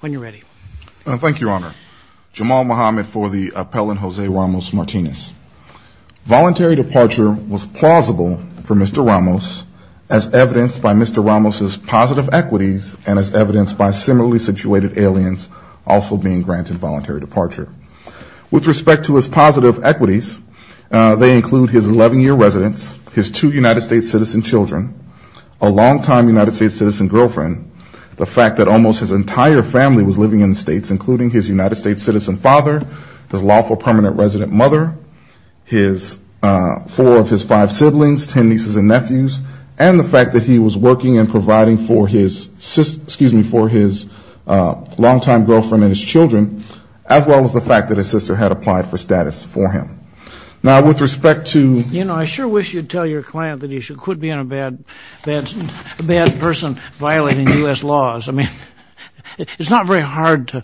When you're ready. Thank you, Your Honor. Jamal Muhammad for the appellant Jose Ramos Martinez. Voluntary departure was plausible for Mr. Ramos as evidenced by Mr. Ramos's positive equities and as evidenced by similarly situated aliens also being granted voluntary departure. With respect to his positive equities they include his 11-year residence, his two United States citizen children, a entire family was living in the States including his United States citizen father, his lawful permanent resident mother, his four of his five siblings, ten nieces and nephews, and the fact that he was working and providing for his long-time girlfriend and his children as well as the fact that his sister had applied for status for him. Now with respect to... You know I sure wish you'd tell your client that he should quit being a bad person violating U.S. laws. I mean it's not very hard to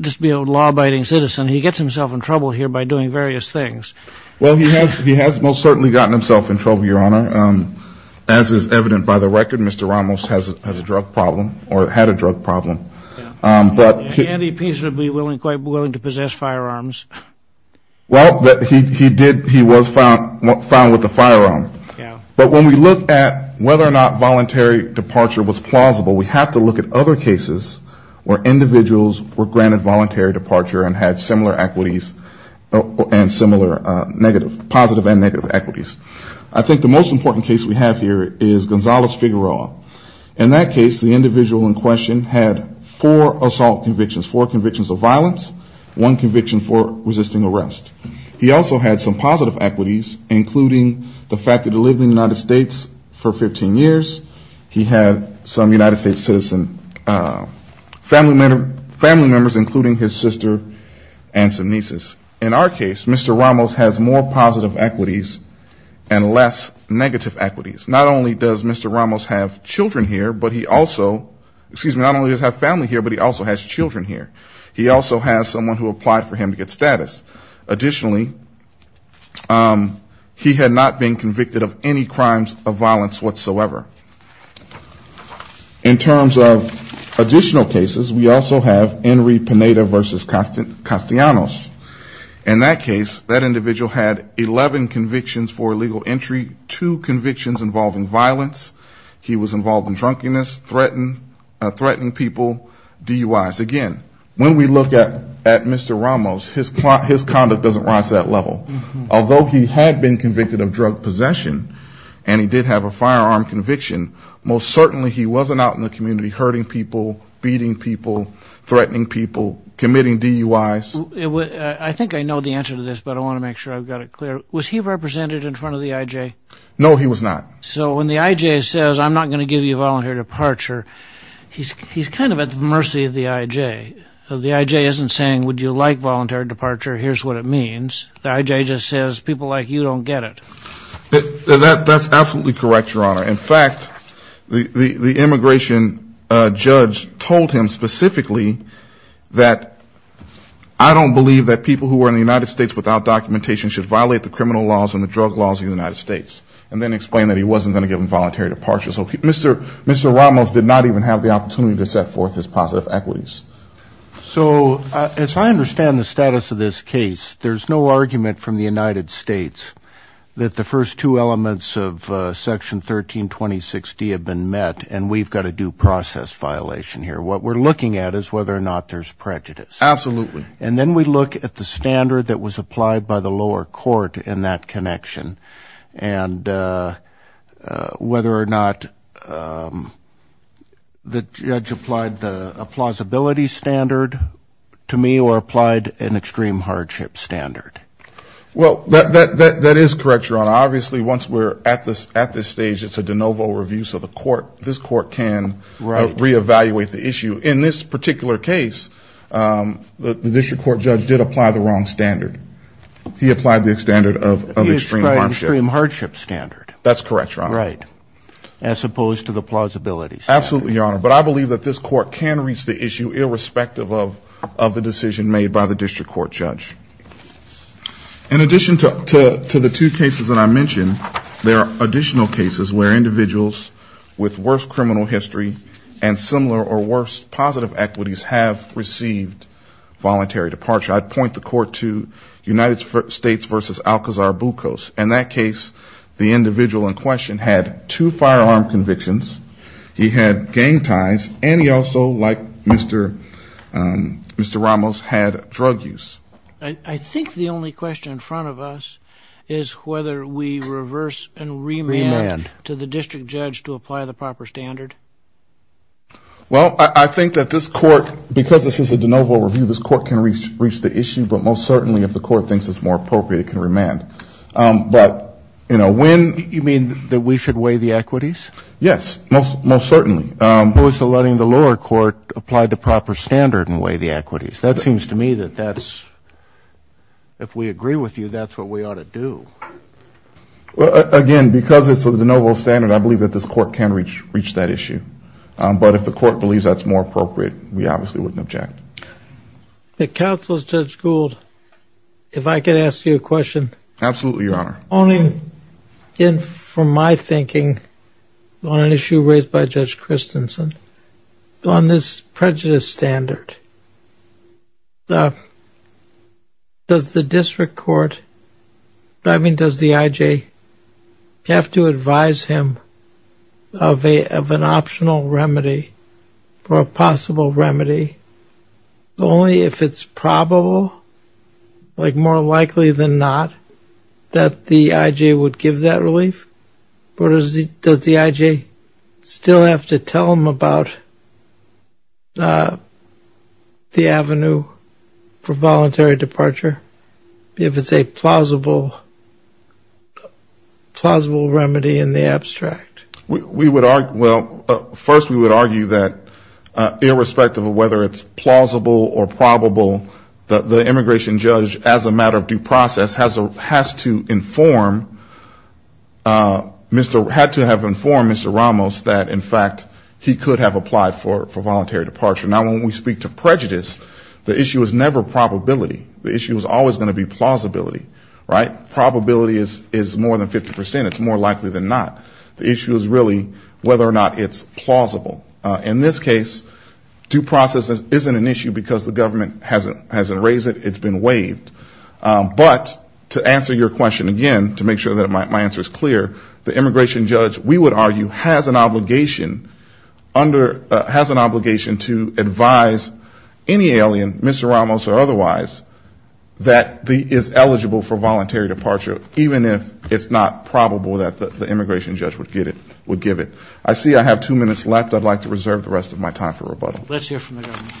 just be a law-abiding citizen. He gets himself in trouble here by doing various things. Well he has he has most certainly gotten himself in trouble, Your Honor. As is evident by the record Mr. Ramos has a drug problem or had a drug problem but... The NDP should be willing quite willing to possess firearms. Well that he did he was found found with a departure was plausible. We have to look at other cases where individuals were granted voluntary departure and had similar equities and similar negative positive and negative equities. I think the most important case we have here is Gonzalez-Figueroa. In that case the individual in question had four assault convictions, four convictions of violence, one conviction for resisting arrest. He also had some positive equities including the fact that he lived in the United States. He also had some United States citizen family members including his sister and some nieces. In our case Mr. Ramos has more positive equities and less negative equities. Not only does Mr. Ramos have children here but he also excuse me not only does he have family here but he also has children here. He also has someone who applied for him to get status. Additionally he had not been convicted of drug possession. In terms of additional cases we also have Enri Pineda v. Castellanos. In that case that individual had 11 convictions for illegal entry, two convictions involving violence. He was involved in drunkenness, threatening people DUI's. Again when we look at at Mr. Ramos his conduct doesn't rise to that level. Although he had been convicted of drug possession, certainly he wasn't out in the community hurting people, beating people, threatening people, committing DUI's. I think I know the answer to this but I want to make sure I've got it clear. Was he represented in front of the IJ? No he was not. So when the IJ says I'm not going to give you a voluntary departure he's he's kind of at the mercy of the IJ. The IJ isn't saying would you like voluntary departure here's what it means. The IJ just says people like you don't get it. That that's absolutely correct your honor. In fact the the immigration judge told him specifically that I don't believe that people who were in the United States without documentation should violate the criminal laws and the drug laws in the United States and then explained that he wasn't going to give him voluntary departure. So Mr. Mr. Ramos did not even have the opportunity to set forth his positive equities. So as I understand the status of this case there's no argument from the United States that the first two elements of section 1326 D have been met and we've got a due process violation here. What we're looking at is whether or not there's prejudice. Absolutely. And then we look at the standard that was applied by the lower court in that connection and whether or not the judge applied the plausibility standard to me or applied an extreme hardship standard. Well that that is correct your honor. Obviously once we're at this at this stage it's a de novo review so the court this court can re-evaluate the issue. In this particular case the district court judge did apply the wrong standard. He applied the standard of extreme hardship standard. That's correct your honor. Right. As opposed to the plausibility. Absolutely your honor. But I believe that this court can reach the issue irrespective of of the decision made by the district court judge. In addition to the two cases that I mentioned there are additional cases where individuals with worse criminal history and similar or worse positive equities have received voluntary departure. I'd point the court to United States versus Alcazar Bucos. In that case the individual in question had two firearm convictions. He had gang ties and he also like Mr. Mr. Ramos had drug use. I think the only question in front of us is whether we reverse and remand to the district judge to apply the proper standard. Well I think that this court because this is a de novo review this court can reach reach the issue but most certainly if the court thinks it's more appropriate it can remand. But you know when. You mean that we should weigh the equities. That seems to me that that's if we agree with you that's what we ought to do. Well again because it's a de novo standard I believe that this court can reach reach that issue. But if the court believes that's more appropriate we obviously wouldn't object. The counsel's judge Gould if I could ask you a question. Absolutely your honor. Only in from my thinking on an issue raised by Judge Christensen on this prejudice standard. Does the district court I mean does the IJ have to advise him of a of an optional remedy for a possible remedy only if it's probable like more likely than not that the IJ would give that belief? Or does the IJ still have to tell him about the avenue for voluntary departure if it's a plausible plausible remedy in the abstract? We would argue well first we would argue that irrespective of whether it's plausible or probable that the immigration judge as a matter of due process has a has to inform Mr. had to have informed Mr. Ramos that in fact he could have applied for voluntary departure. Now when we speak to prejudice the issue is never probability. The issue is always going to be plausibility. Right? Probability is is more than 50 percent. It's more likely than not. The issue is really whether or not it's plausible. In this case due process isn't an issue because the government hasn't hasn't raised it. It's been waived. But to answer your question again to make sure that my answer is clear the immigration judge we would argue has an obligation under has an obligation to advise any alien Mr. Ramos or otherwise that the is eligible for voluntary departure even if it's not probable that the immigration judge would get it would give it. I see I have two minutes left I'd like to reserve the rest of my time for rebuttal. Let's hear from the government.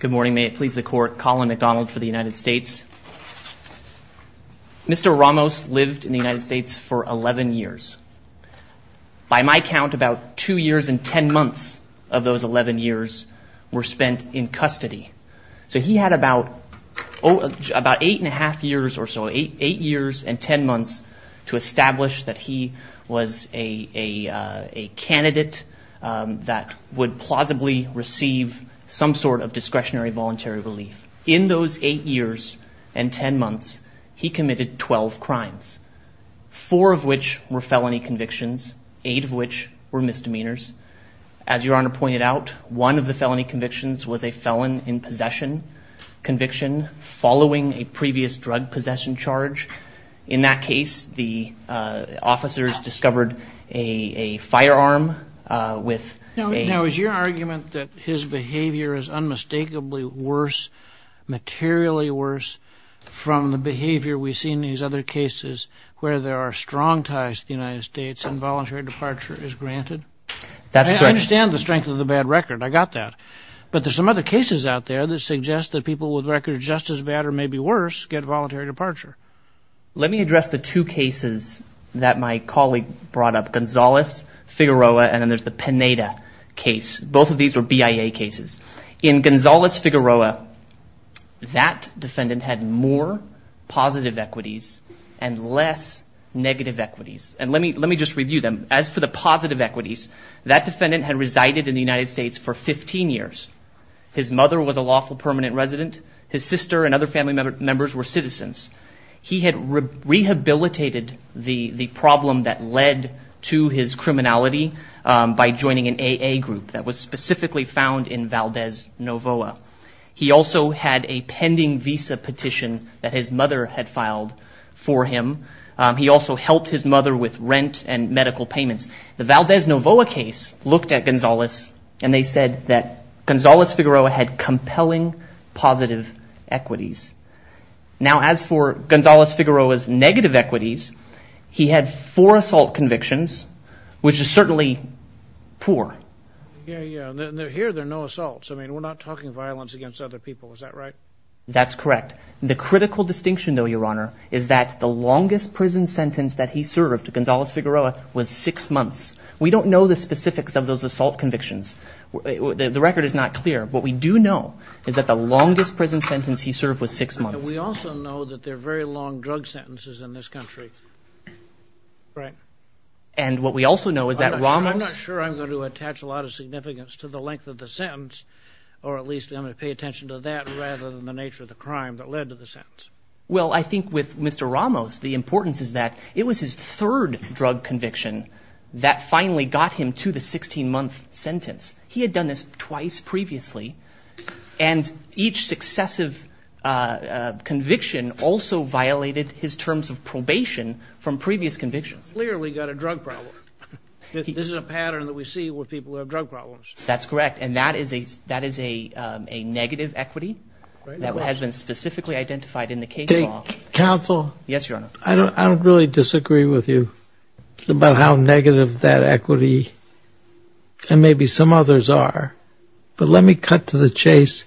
Good morning may it please the court Colin McDonald for the United States. Mr. Ramos lived in the United States for 11 years. By my count about two years and ten months of those 11 years were spent in custody. So he had about oh about eight and a half years or so. Eight years and ten months to establish that he was a a candidate that would plausibly receive some sort of discretionary voluntary relief. In those eight years and ten months he committed 12 crimes. Four of which were felony convictions. Eight of which were misdemeanors. As your honor pointed out one of the felony convictions was a felon in possession conviction following a charge. In that case the officers discovered a firearm with. Now is your argument that his behavior is unmistakably worse materially worse from the behavior we've seen these other cases where there are strong ties to the United States and voluntary departure is granted? That's correct. I understand the strength of the bad record I got that but there's some other cases out there that suggest that people with records just as bad or maybe worse get voluntary departure. Let me address the two cases that my colleague brought up. Gonzalez Figueroa and then there's the Pineda case. Both of these were BIA cases. In Gonzalez Figueroa that defendant had more positive equities and less negative equities. And let me let me just review them. As for the positive equities that defendant had resided in the United States for 15 years. His mother was a lawful permanent resident. His sister and other family members were citizens. He had rehabilitated the the problem that led to his criminality by joining an AA group that was specifically found in Valdez, Novoa. He also had a pending visa petition that his mother had filed for him. He also helped his mother with rent and medical payments. The Valdez, Novoa case looked at Gonzalez and they said that Gonzalez Figueroa had compelling positive equities. Now as for Gonzalez Figueroa's negative equities he had four assault convictions which is certainly poor. Here there are no assaults. I mean we're not talking violence against other people. Is that right? That's correct. The critical distinction though your honor is that the longest prison sentence that he served to Gonzalez Figueroa was six months. We don't know the specifics of those assault convictions. The record is not clear. What we do know is that the longest prison sentence he served was six months. We also know that they're very long drug sentences in this country. Right. And what we also know is that Ramos... I'm not sure I'm going to attach a lot of significance to the length of the sentence or at least I'm going to pay attention to that rather than the nature of the crime that led to the sentence. Well I think with Mr. Ramos the importance is that it was his third drug conviction that finally got him to the 16-month sentence. He had done this twice previously and each successive conviction also violated his terms of probation from previous convictions. Clearly got a drug problem. This is a pattern that we see with people who have drug problems. That's correct and that is a that is a negative equity that has been specifically identified in the case Counsel? Yes, Your Honor. I don't really disagree with you about how negative that equity and maybe some others are but let me cut to the chase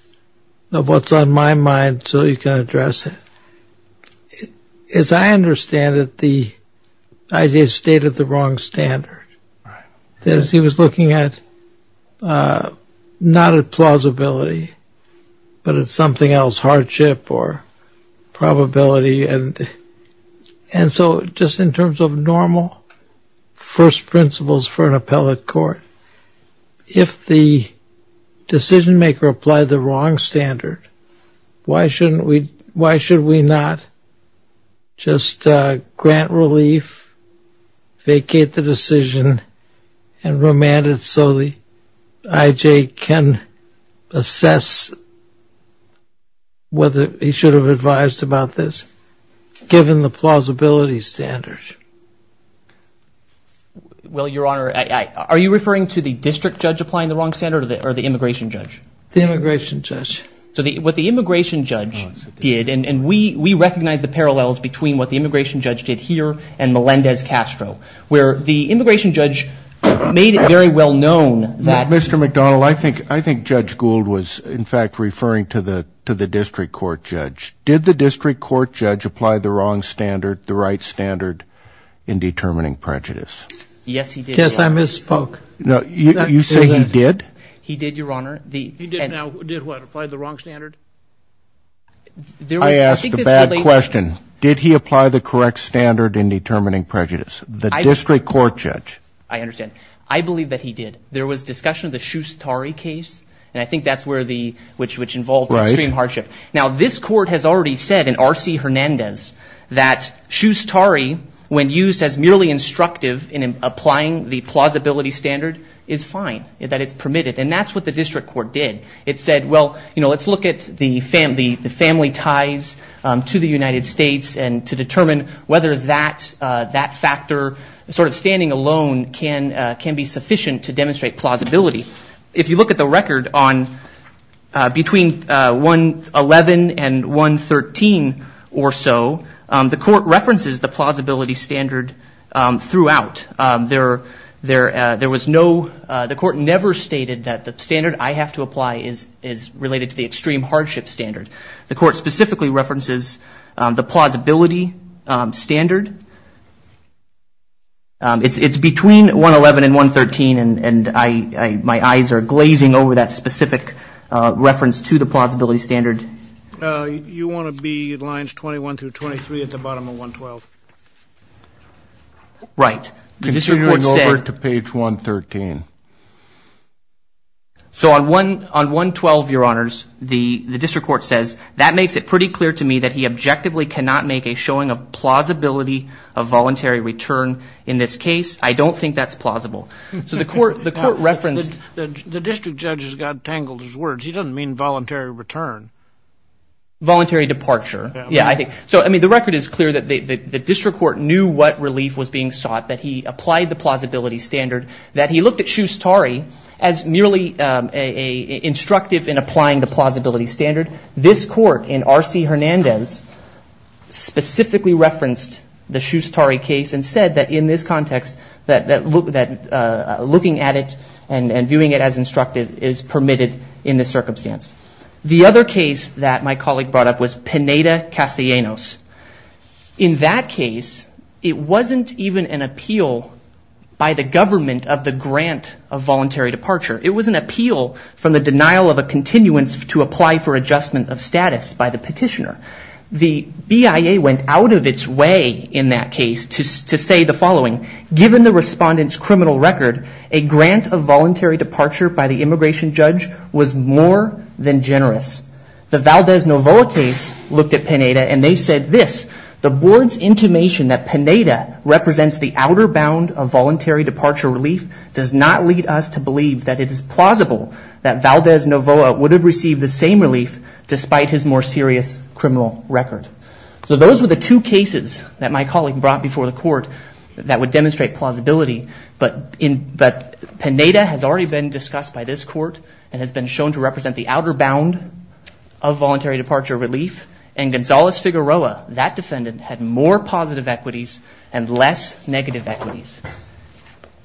of what's on my mind so you can address it. As I understand it the idea stayed at the wrong standard. That is he was looking at not at plausibility but it's something else. Hardship or probability and and so just in terms of normal first principles for an appellate court if the decision-maker applied the wrong standard why shouldn't we why should we not just grant relief, vacate the whether he should have advised about this given the plausibility standards? Well, Your Honor, are you referring to the district judge applying the wrong standard or the immigration judge? The immigration judge. So what the immigration judge did and we we recognize the parallels between what the immigration judge did here and Melendez Castro where the immigration judge made it very well known that. Mr. McDonnell, I think I think Judge Gould was in fact referring to the to the district court judge. Did the district court judge apply the wrong standard, the right standard in determining prejudice? Yes, he did. Yes, I misspoke. No, you say he did? He did, Your Honor. He did what? Apply the wrong standard? I asked a bad question. Did he apply the correct standard in determining prejudice? The district court judge. I understand. I believe that he did. There was discussion of the Shushtari case and I think that's where the which involved extreme hardship. Now this court has already said in R.C. Hernandez that Shushtari when used as merely instructive in applying the plausibility standard is fine, that it's permitted and that's what the district court did. It said, well, you know, let's look at the family, the family ties to the United States and to determine whether that that factor sort of standing alone can can be sufficient to demonstrate plausibility. If you look at the record on between 111 and 113 or so, the court references the plausibility standard throughout. There was no, the court never stated that the standard I have to apply is related to the extreme hardship standard. The court specifically references the plausibility standard. It's between 111 and 113 and I my eyes are glazing over that specific reference to the plausibility standard. You want to be lines 21 through 23 at the bottom of 112. Right. Continuing over to page 113. So on 112, your honors, the the district court says that makes it pretty clear to me that he objectively cannot make a showing of plausibility of voluntary return in this case. I don't think that's the court referenced. The district judges got tangled his words. He doesn't mean voluntary return. Voluntary departure. Yeah, I think so. I mean, the record is clear that the district court knew what relief was being sought, that he applied the plausibility standard, that he looked at Shushtari as merely a instructive in applying the plausibility standard. This court in R.C. Hernandez specifically referenced the Shushtari case and said that in this context that looking at it and viewing it as instructive is permitted in this circumstance. The other case that my colleague brought up was Pineda Castellanos. In that case, it wasn't even an appeal by the government of the grant of voluntary departure. It was an appeal from the denial of a continuance to apply for adjustment of status by the petitioner. The BIA went out of its way in that case to say the following, given the respondent's criminal record, a grant of voluntary departure by the immigration judge was more than generous. The Valdez-Novoa case looked at Pineda and they said this, the board's intimation that Pineda represents the outer bound of voluntary departure relief does not lead us to believe that it is plausible that Valdez-Novoa would have received the same relief despite his more serious criminal record. So those were the two cases that my colleague brought before the court that would demonstrate plausibility, but Pineda has already been discussed by this court and has been shown to represent the outer bound of voluntary departure relief and Gonzalez-Figueroa, that defendant, had more positive equities and less negative equities.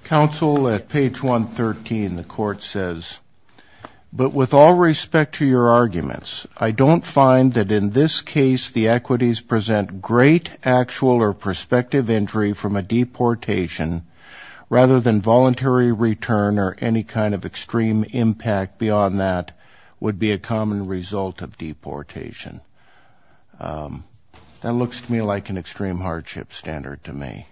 Counsel, at page 113 the court says, but with all respect to your arguments, I don't find that in this case the great actual or prospective injury from a deportation rather than voluntary return or any kind of extreme impact beyond that would be a common result of deportation. That looks to me like an extreme hardship standard to me.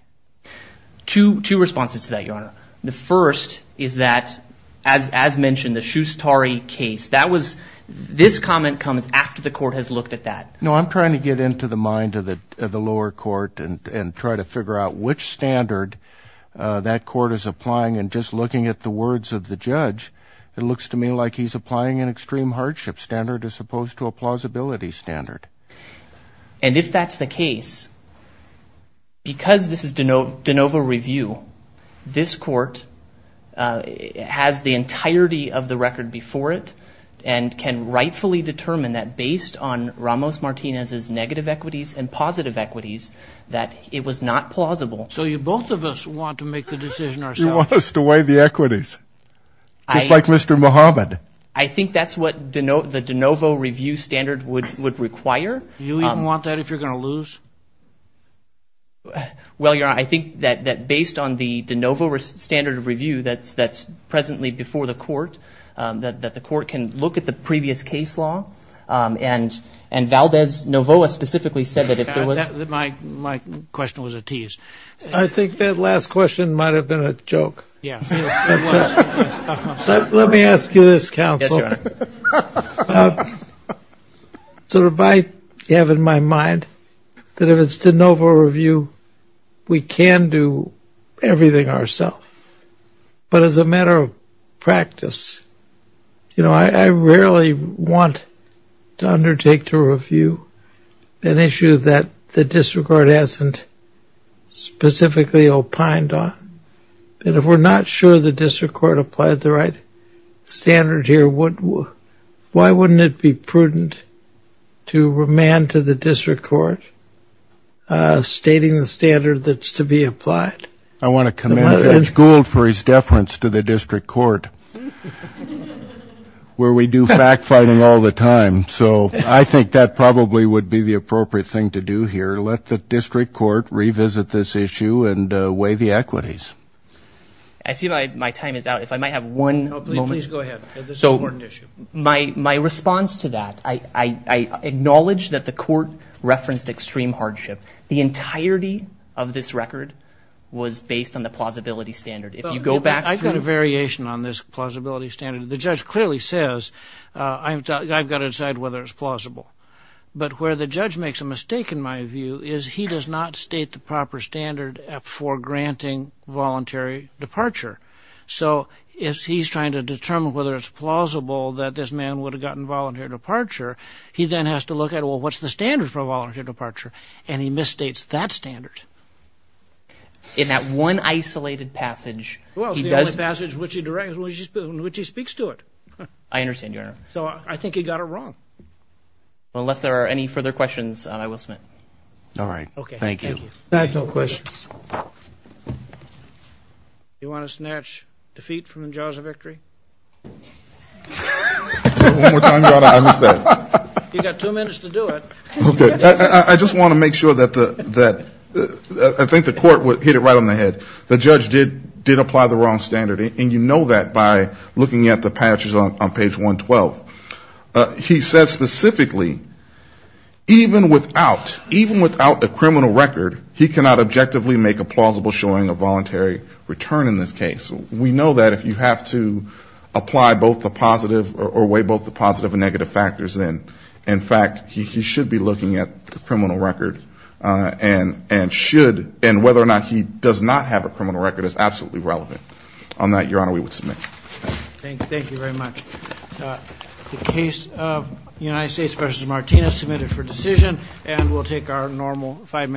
Two responses to that, your honor. The first is that, as mentioned, the Shustari case, that was, this comment comes after the court has looked at that. No, I'm trying to get into the mind of the lower court and try to figure out which standard that court is applying and just looking at the words of the judge, it looks to me like he's applying an extreme hardship standard as opposed to a plausibility standard. And if that's the case, because this is de novo review, this court has the entirety of the record before it and can rightfully determine that based on Ramos-Martinez's negative equities and positive equities that it was not plausible. So you both of us want to make the decision ourselves. You want us to weigh the equities, just like Mr. Muhammad. I think that's what the de novo review standard would require. You even want that if you're gonna lose? Well, your honor, I think that based on the de novo standard of review that's presently before the court, that the court can look at the previous case law. And Valdez-Novoa specifically said that if there was... My question was a tease. I think that last question might have been a joke. Let me ask you this, counsel. So I have in my mind that if it's de novo review, we can do everything ourself. But as a matter of practice, you know, I rarely want to undertake to review an issue that the district court hasn't specifically opined on. And if we're not sure the district court applied the right standard here, why wouldn't it be prudent to remand to the district court stating the standard that's to be applied? I want to commend Edge Gould for his deference to the district court, where we do fact-finding all the time. So I think that probably would be the appropriate thing to do here. Let the district court revisit this issue and weigh the equities. I see my time is out. If I might have one moment. So my response to that, I acknowledge that the court referenced extreme hardship. The record was based on the plausibility standard. If you go back... I've got a variation on this plausibility standard. The judge clearly says, I've got to decide whether it's plausible. But where the judge makes a mistake, in my view, is he does not state the proper standard for granting voluntary departure. So if he's trying to determine whether it's plausible that this man would have gotten voluntary departure, he then has to look at, well, what's the standard for that? In that one isolated passage, he does... Well, it's the only passage in which he speaks to it. I understand, Your Honor. So I think he got it wrong. Unless there are any further questions, I will submit. All right. Okay. Thank you. No questions. You want to snatch defeat from the Jaws of Victory? You've got two minutes to do it. Okay. I just want to make sure that the... I think the court hit it right on the head. The judge did apply the wrong standard. And you know that by looking at the patches on page 112. He says specifically, even without a criminal record, he cannot objectively make a plausible showing of voluntary return in this case. We know that if you have to apply both the positive or weigh both the positive and negative factors, then in fact, he should be looking at the criminal record and should... And whether or not he does not have a criminal record is absolutely relevant. On that, Your Honor, we would submit. Thank you very much. The case of United States versus Martinez submitted for decision. And we'll take our normal five-minute